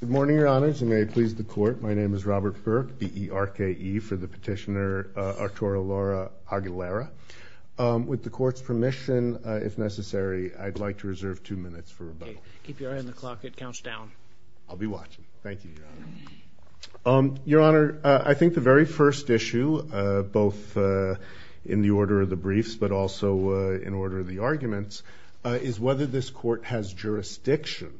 Good morning, Your Honors, and may it please the Court, my name is Robert Burke, B-E-R-K-E for the petitioner Arturo Lara-Aguilera. With the Court's permission, if necessary, I'd like to reserve two minutes for rebuttal. Keep your eye on the clock, it counts down. I'll be watching. Thank you, Your Honor. Your Honor, I think the very first issue, both in the order of the briefs but also in order of the arguments, is whether this Court has jurisdiction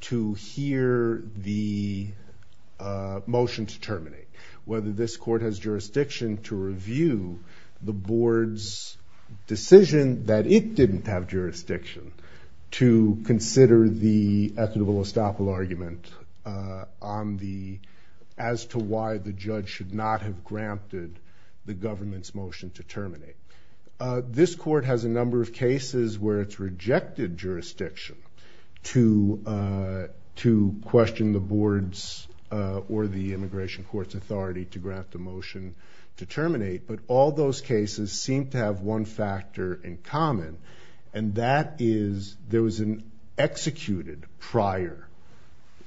to hear the motion to terminate. Whether this Court has jurisdiction to review the Board's decision that it didn't have jurisdiction to consider the equitable estoppel argument as to why the judge should not have granted the government's motion to terminate. This Court has a number of cases where it's rejected jurisdiction to question the Board's or the Immigration Court's authority to grant the motion to terminate, but all those cases seem to have one factor in common, and that is there was an executed prior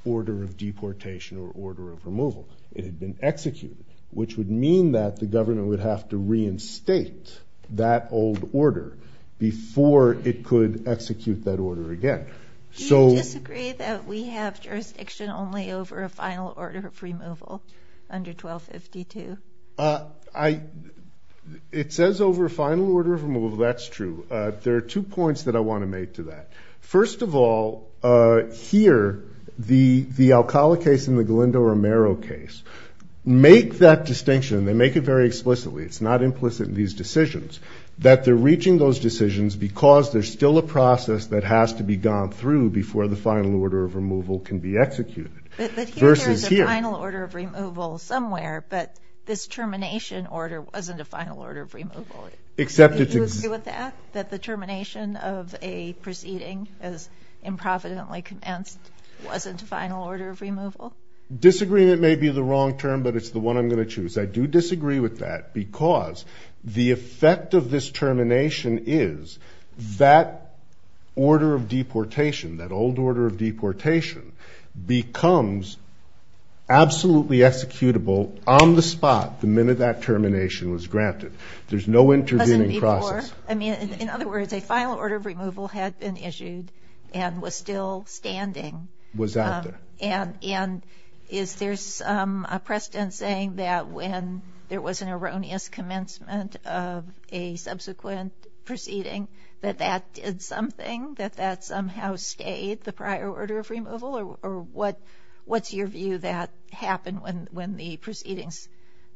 order of deportation or order of removal. It had been executed, which would mean that the government would have to reinstate that old order before it could execute that order again. Do you disagree that we have jurisdiction only over a final order of removal under 1252? It says over a final order of removal. That's true. There are two points that I want to make to that. First of all, here, the Alcala case and the Galindo-Romero case make that distinction, and they make it very explicitly, it's not implicit in these decisions, that they're reaching those decisions because there's still a process that has to be gone through before the final order of removal can be executed. But here there is a final order of removal somewhere, but this termination order wasn't a final order of removal. Do you agree with that, that the termination of a proceeding as improvidently commenced wasn't a final order of removal? Disagreement may be the wrong term, but it's the one I'm going to choose. I do disagree with that because the effect of this termination is that order of deportation, that old order of deportation, becomes absolutely executable on the spot the minute that termination was granted. There's no intervening process. In other words, a final order of removal had been issued and was still standing. Was out there. And is there a precedent saying that when there was an erroneous commencement of a subsequent proceeding that that did something, that that somehow stayed the prior order of removal? Or what's your view that happened when the proceedings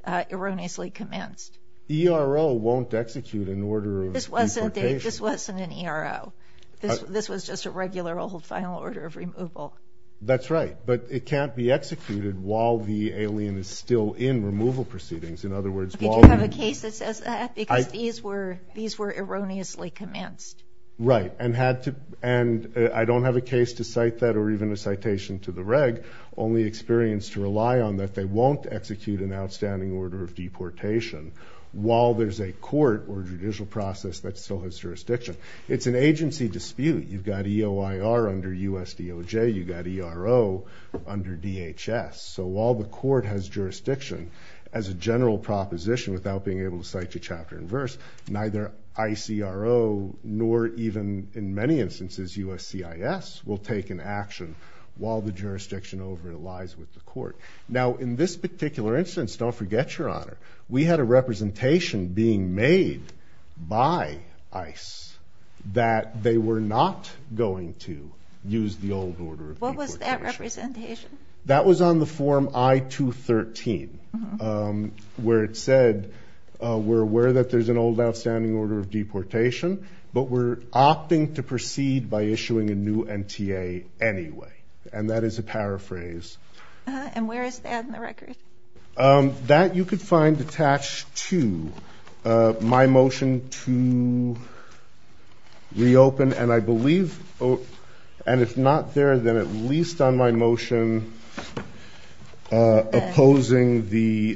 erroneously commenced? The ERO won't execute an order of deportation. This wasn't an ERO. This was just a regular old final order of removal. That's right. But it can't be executed while the alien is still in removal proceedings. In other words, while the— Do you have a case that says that? Because these were erroneously commenced. Right. And I don't have a case to cite that or even a citation to the reg, only experienced to rely on that they won't execute an outstanding order of deportation while there's a court or judicial process that still has jurisdiction. It's an agency dispute. You've got EOIR under USDOJ. You've got ERO under DHS. So while the court has jurisdiction, as a general proposition without being able to cite your chapter and verse, neither ICRO nor even in many instances USCIS will take an action while the jurisdiction over it lies with the court. Now, in this particular instance, don't forget, Your Honor, we had a representation being made by ICE that they were not going to use the old order of deportation. What was that representation? That was on the Form I-213, where it said we're aware that there's an old outstanding order of deportation, but we're opting to proceed by issuing a new NTA anyway. And that is a paraphrase. And where is that in the record? That you could find attached to my motion to reopen. And I believe, and if not there, then at least on my motion opposing the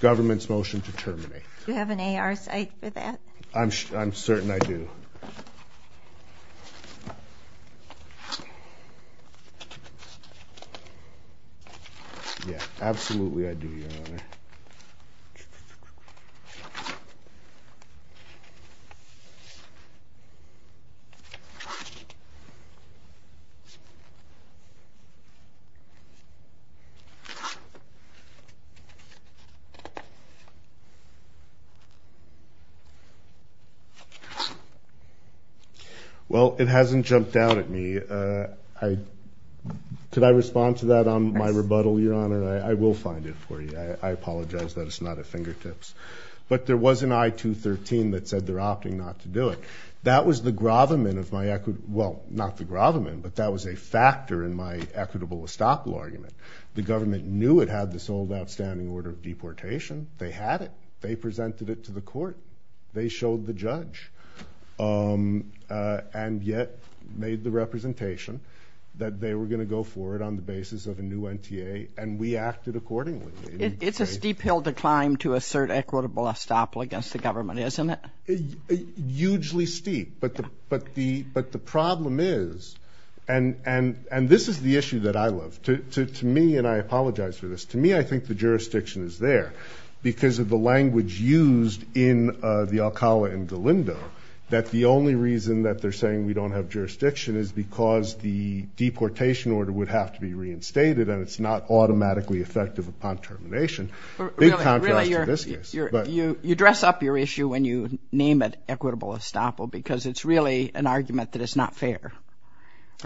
government's motion to terminate. Do you have an AR site for that? I'm certain I do. Yeah, absolutely I do, Your Honor. Well, it hasn't jumped out at me. Could I respond to that on my rebuttal, Your Honor? I will find it for you. I apologize that it's not at fingertips. But there was an I-213 that said they're opting not to do it. That was the gravamen of my – well, not the gravamen, but that was a factor in my equitable estoppel argument. The government knew it had this old outstanding order of deportation. They had it. They presented it to the court. They showed the judge and yet made the representation that they were going to go forward on the basis of a new NTA, and we acted accordingly. It's a steep hill to climb to assert equitable estoppel against the government, isn't it? Hugely steep. But the problem is – and this is the issue that I love. To me – and I apologize for this – to me, I think the jurisdiction is there. Because of the language used in the Alcala and Galindo, that the only reason that they're saying we don't have jurisdiction is because the deportation order would have to be reinstated and it's not automatically effective upon termination. Big contrast to this case. You dress up your issue when you name it equitable estoppel because it's really an argument that it's not fair.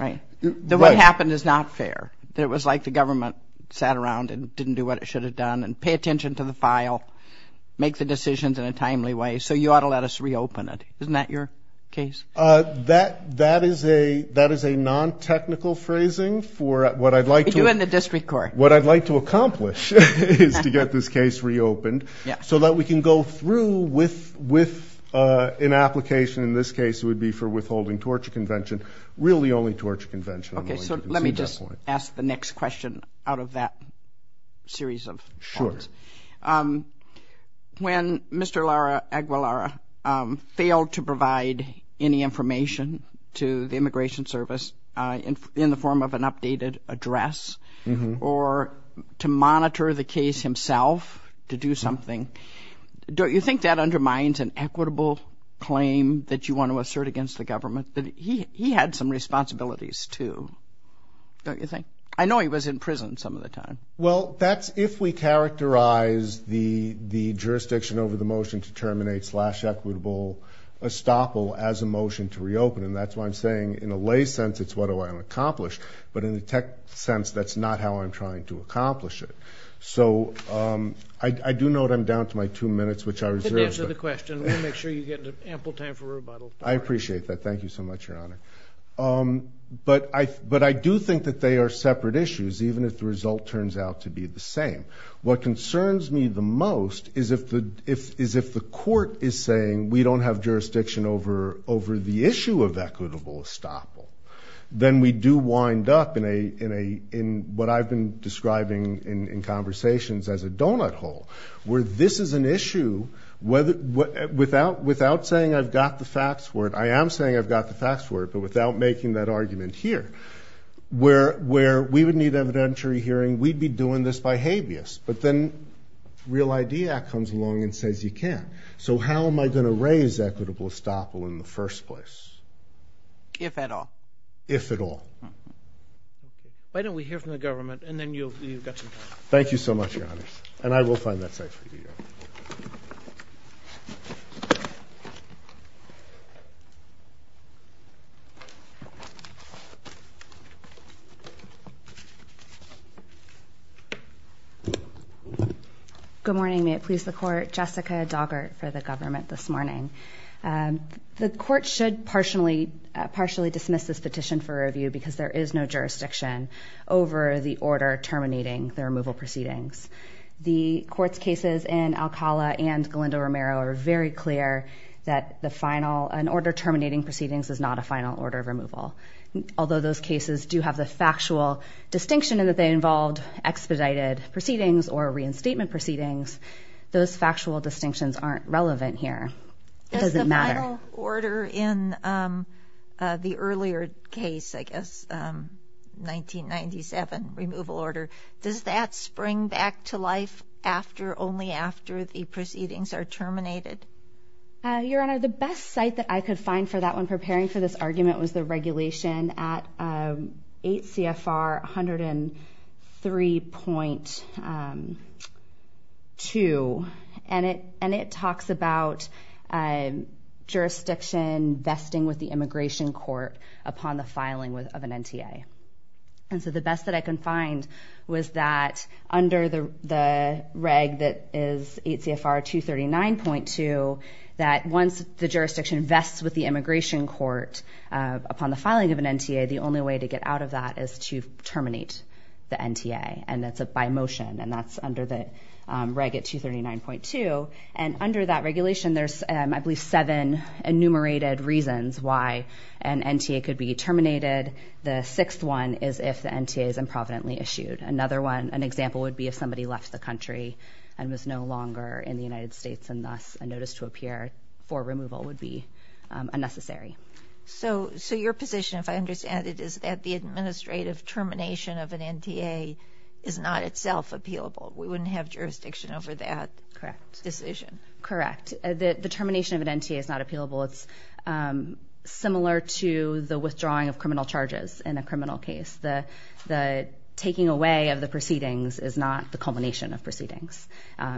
The way it happened is not fair. It was like the government sat around and didn't do what it should have done and pay attention to the file, make the decisions in a timely way, so you ought to let us reopen it. Isn't that your case? That is a non-technical phrasing for what I'd like to – You and the district court. What I'd like to accomplish is to get this case reopened so that we can go through with an application, in this case it would be for withholding torture convention, really only torture convention. Okay, so let me just ask the next question out of that series of points. Sure. When Mr. Aguilar failed to provide any information to the Immigration Service in the form of an updated address or to monitor the case himself to do something, don't you think that undermines an equitable claim that you want to assert against the government? He had some responsibilities too, don't you think? I know he was in prison some of the time. Well, that's if we characterize the jurisdiction over the motion to terminate slash equitable estoppel as a motion to reopen, and that's why I'm saying in a lay sense it's what I want to accomplish, but in a tech sense that's not how I'm trying to accomplish it. So I do note I'm down to my two minutes, which I reserve. Answer the question. We'll make sure you get ample time for rebuttal. I appreciate that. Thank you so much, Your Honor. But I do think that they are separate issues, even if the result turns out to be the same. What concerns me the most is if the court is saying we don't have jurisdiction over the issue of equitable estoppel, then we do wind up in what I've been describing in conversations as a donut hole, where this is an issue without saying I've got the facts for it. I am saying I've got the facts for it, but without making that argument here, where we would need evidentiary hearing, we'd be doing this by habeas, but then Real ID Act comes along and says you can't. So how am I going to raise equitable estoppel in the first place? If at all. If at all. Why don't we hear from the government, and then you've got some time. Thank you so much, Your Honor. And I will find that safe for you. Thank you. Good morning. May it please the court. Jessica Doggart for the government this morning. The court should partially dismiss this petition for review because there is no jurisdiction over the order terminating the removal proceedings. The court's cases in Alcala and Galindo Romero are very clear that an order terminating proceedings is not a final order of removal. Although those cases do have the factual distinction in that they involved expedited proceedings or reinstatement proceedings, those factual distinctions aren't relevant here. It doesn't matter. Does the final order in the earlier case, I guess, 1997 removal order, does that spring back to life only after the proceedings are terminated? Your Honor, the best site that I could find for that when preparing for this argument was the regulation at 8 CFR 103.2, and it talks about jurisdiction vesting with the immigration court upon the filing of an NTA. And so the best that I can find was that under the reg that is 8 CFR 239.2, that once the jurisdiction vests with the immigration court upon the filing of an NTA, the only way to get out of that is to terminate the NTA, and that's by motion, and that's under the reg at 239.2. And under that regulation, there's, I believe, seven enumerated reasons why an NTA could be terminated. The sixth one is if the NTA is improvidently issued. Another one, an example would be if somebody left the country and was no longer in the United States, and thus a notice to appear for removal would be unnecessary. So your position, if I understand it, is that the administrative termination of an NTA is not itself appealable. We wouldn't have jurisdiction over that decision. Correct. The termination of an NTA is not appealable. It's similar to the withdrawing of criminal charges in a criminal case. The taking away of the proceedings is not the culmination of proceedings,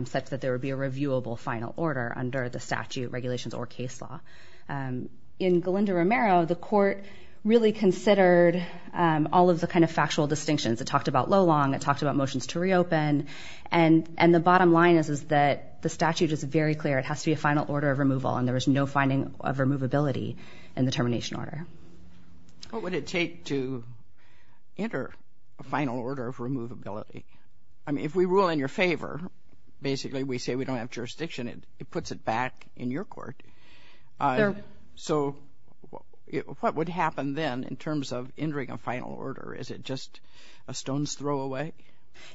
such that there would be a reviewable final order under the statute, regulations, or case law. In Galindo-Romero, the court really considered all of the kind of factual distinctions. It talked about low-long. It talked about motions to reopen. And the bottom line is that the statute is very clear. It has to be a final order of removal, and there is no finding of removability in the termination order. What would it take to enter a final order of removability? I mean, if we rule in your favor, basically we say we don't have jurisdiction, it puts it back in your court. So what would happen then in terms of entering a final order? Is it just a stone's throw away?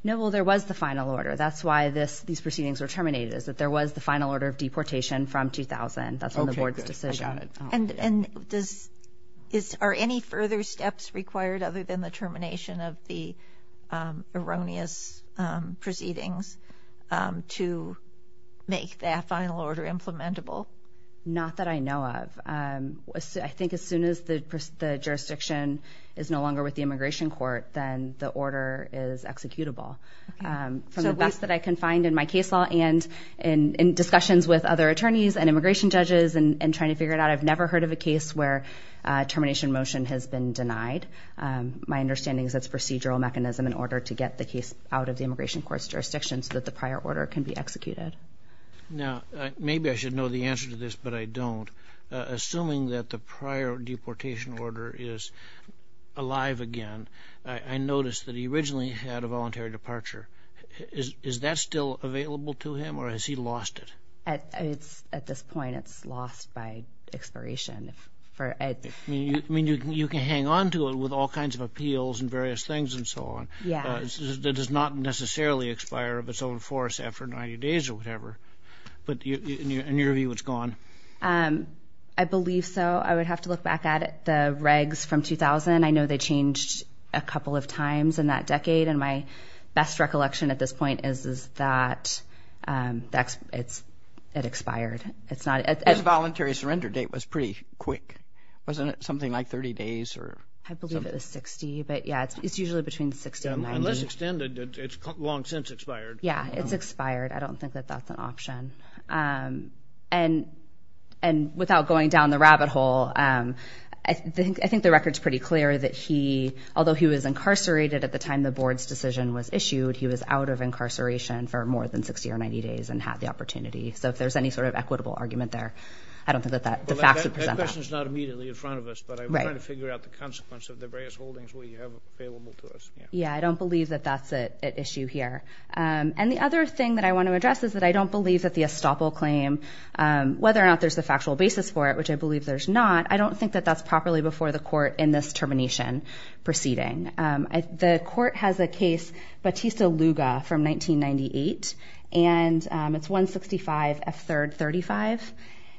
No, well, there was the final order. That's why these proceedings were terminated, is that there was the final order of deportation from 2000. That's on the board's decision. And are any further steps required other than the termination of the erroneous proceedings to make that final order implementable? Not that I know of. I think as soon as the jurisdiction is no longer with the immigration court, then the order is executable. From the best that I can find in my case law and in discussions with other attorneys and immigration judges and trying to figure it out, I've never heard of a case where a termination motion has been denied. My understanding is that it's a procedural mechanism in order to get the case out of the immigration court's jurisdiction so that the prior order can be executed. Now, maybe I should know the answer to this, but I don't. Assuming that the prior deportation order is alive again, I noticed that he originally had a voluntary departure. Is that still available to him, or has he lost it? At this point, it's lost by expiration. You can hang on to it with all kinds of appeals and various things and so on. It does not necessarily expire of its own force after 90 days or whatever. In your view, it's gone? I believe so. I would have to look back at the regs from 2000. I know they changed a couple of times in that decade, and my best recollection at this point is that it expired. His voluntary surrender date was pretty quick. Wasn't it something like 30 days or something? I believe it was 60, but, yeah, it's usually between 60 and 90. Unless extended, it's long since expired. Yeah, it's expired. I don't think that that's an option. And without going down the rabbit hole, I think the record's pretty clear that he, although he was incarcerated at the time the board's decision was issued, he was out of incarceration for more than 60 or 90 days and had the opportunity. So if there's any sort of equitable argument there, I don't think that the facts would present that. That question's not immediately in front of us, but I'm trying to figure out the consequence of the various holdings we have available to us. Yeah, I don't believe that that's an issue here. And the other thing that I want to address is that I don't believe that the estoppel claim, whether or not there's a factual basis for it, which I believe there's not, I don't think that that's properly before the court in this termination proceeding. The court has a case, Batista-Luga from 1998, and it's 165 F3rd 35.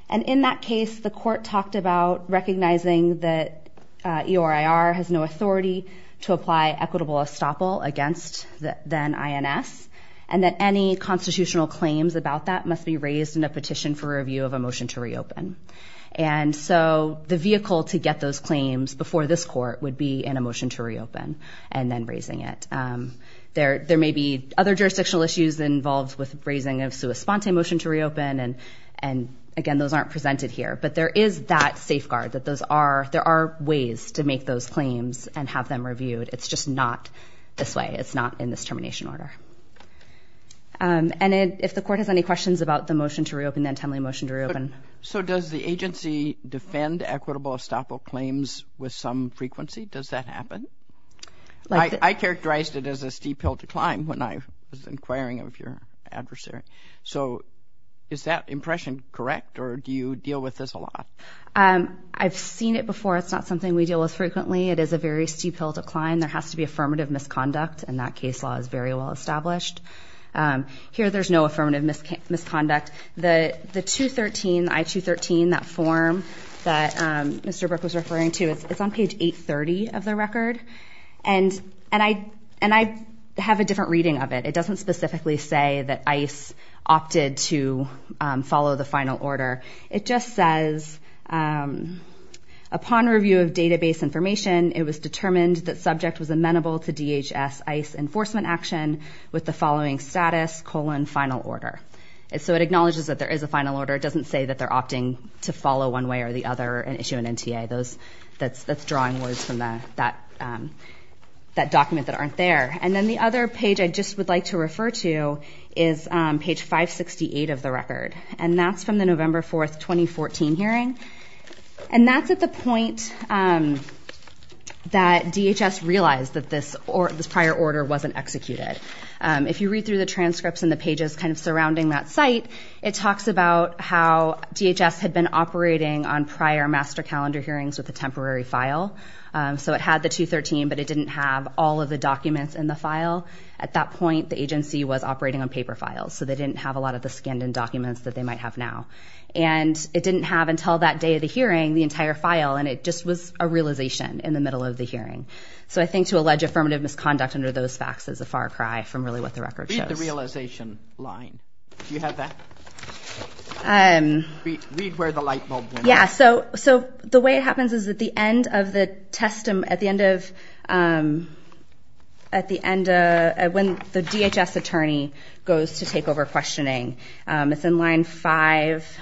And in that case, the court talked about recognizing that EORIR has no authority to apply equitable estoppel against the then INS and that any constitutional claims about that must be raised in a petition for review of a motion to reopen. And so the vehicle to get those claims before this court would be in a motion to reopen and then raising it. There may be other jurisdictional issues involved with raising a sua sponte motion to reopen, and, again, those aren't presented here. But there is that safeguard that there are ways to make those claims and have them reviewed. It's just not this way. It's not in this termination order. And if the court has any questions about the motion to reopen, then timely motion to reopen. So does the agency defend equitable estoppel claims with some frequency? Does that happen? I characterized it as a steep hill to climb when I was inquiring of your adversary. So is that impression correct, or do you deal with this a lot? I've seen it before. It's not something we deal with frequently. It is a very steep hill to climb. There has to be affirmative misconduct, and that case law is very well established. Here there's no affirmative misconduct. The I-213, that form that Mr. Brook was referring to, it's on page 830 of the record, and I have a different reading of it. It doesn't specifically say that ICE opted to follow the final order. It just says, upon review of database information, it was determined that subject was amenable to DHS ICE enforcement action with the following status, colon, final order. So it acknowledges that there is a final order. It doesn't say that they're opting to follow one way or the other and issue an NTA. That's drawing words from that document that aren't there. And then the other page I just would like to refer to is page 568 of the record, and that's from the November 4, 2014 hearing. And that's at the point that DHS realized that this prior order wasn't executed. If you read through the transcripts and the pages kind of surrounding that site, it talks about how DHS had been operating on prior master calendar hearings with a temporary file. So it had the 213, but it didn't have all of the documents in the file. At that point, the agency was operating on paper files, so they didn't have a lot of the scanned-in documents that they might have now. And it didn't have until that day of the hearing the entire file, and it just was a realization in the middle of the hearing. So I think to allege affirmative misconduct under those facts is a far cry from really what the record shows. Read the realization line. Do you have that? Read where the light bulb went. Yeah. So the way it happens is at the end of the testimony, at the end of when the DHS attorney goes to take over questioning, it's in line 5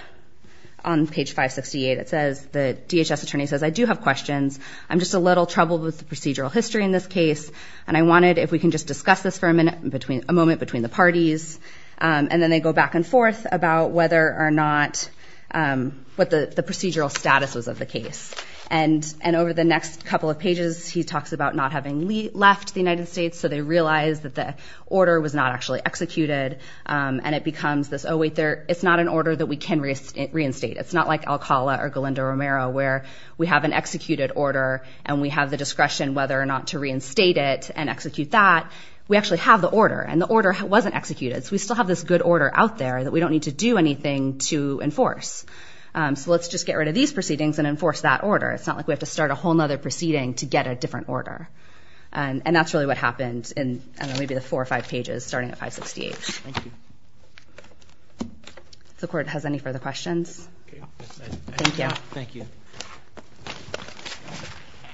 on page 568 that says the DHS attorney says, I do have questions. I'm just a little troubled with the procedural history in this case, and I wanted if we can just discuss this for a moment between the parties. And then they go back and forth about whether or not what the procedural status was of the case. And over the next couple of pages, he talks about not having left the United States, so they realize that the order was not actually executed, and it becomes this, oh, wait, it's not an order that we can reinstate. It's not like Alcala or Galindo Romero where we have an executed order and we have the discretion whether or not to reinstate it and execute that. We actually have the order, and the order wasn't executed, so we still have this good order out there that we don't need to do anything to enforce. So let's just get rid of these proceedings and enforce that order. It's not like we have to start a whole other proceeding to get a different order. And that's really what happened in maybe the four or five pages starting at 568. Thank you. If the Court has any further questions. Okay. Thank you. Thank you.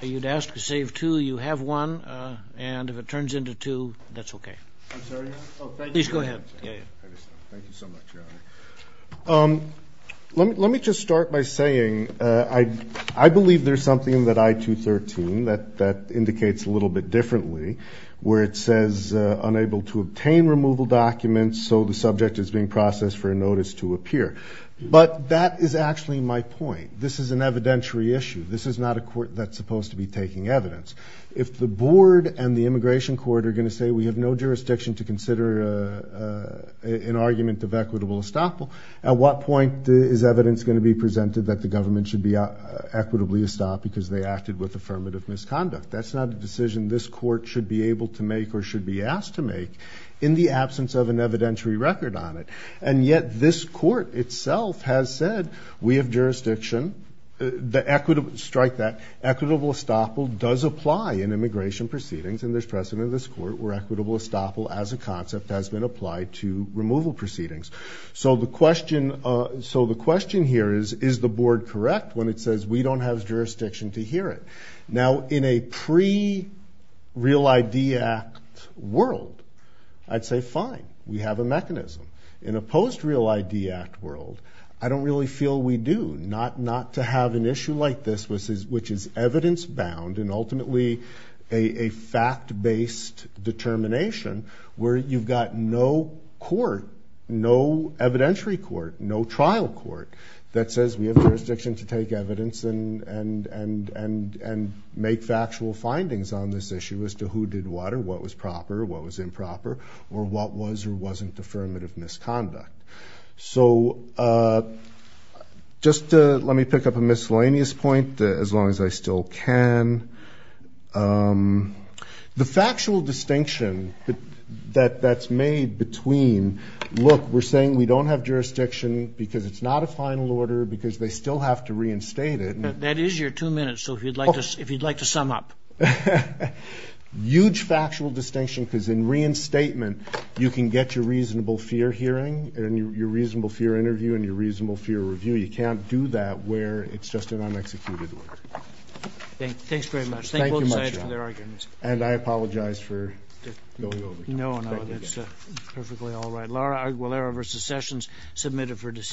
You'd ask to save two. You have one, and if it turns into two, that's okay. I'm sorry? Oh, thank you. Please go ahead. Thank you so much, Your Honor. Let me just start by saying I believe there's something in that I-213 that indicates a little bit differently where it says, unable to obtain removal documents, so the subject is being processed for a notice to appear. But that is actually my point. This is an evidentiary issue. This is not a court that's supposed to be taking evidence. If the Board and the Immigration Court are going to say we have no jurisdiction to consider an argument of equitable estoppel, at what point is evidence going to be presented that the government should be That's not a decision this Court should be able to make or should be asked to make in the absence of an evidentiary record on it. And yet this Court itself has said we have jurisdiction. Strike that. Equitable estoppel does apply in immigration proceedings, and there's precedent in this Court where equitable estoppel as a concept has been applied to removal proceedings. So the question here is, is the Board correct when it says, we don't have jurisdiction to hear it? Now, in a pre-Real ID Act world, I'd say fine. We have a mechanism. In a post-Real ID Act world, I don't really feel we do, not to have an issue like this, which is evidence-bound and ultimately a fact-based determination where you've got no court, no evidentiary court, no trial court, that says we have jurisdiction to take evidence and make factual findings on this issue as to who did what or what was proper or what was improper or what was or wasn't affirmative misconduct. So just let me pick up a miscellaneous point as long as I still can. The factual distinction that's made between, look, we're saying we don't have jurisdiction because it's not a final order, because they still have to reinstate it. That is your two minutes, so if you'd like to sum up. Huge factual distinction, because in reinstatement, you can get your reasonable fear hearing and your reasonable fear interview and your reasonable fear review. You can't do that where it's just an unexecuted word. Thanks very much. Thank both sides for their arguments. And I apologize for going over time. No, no, it's perfectly all right.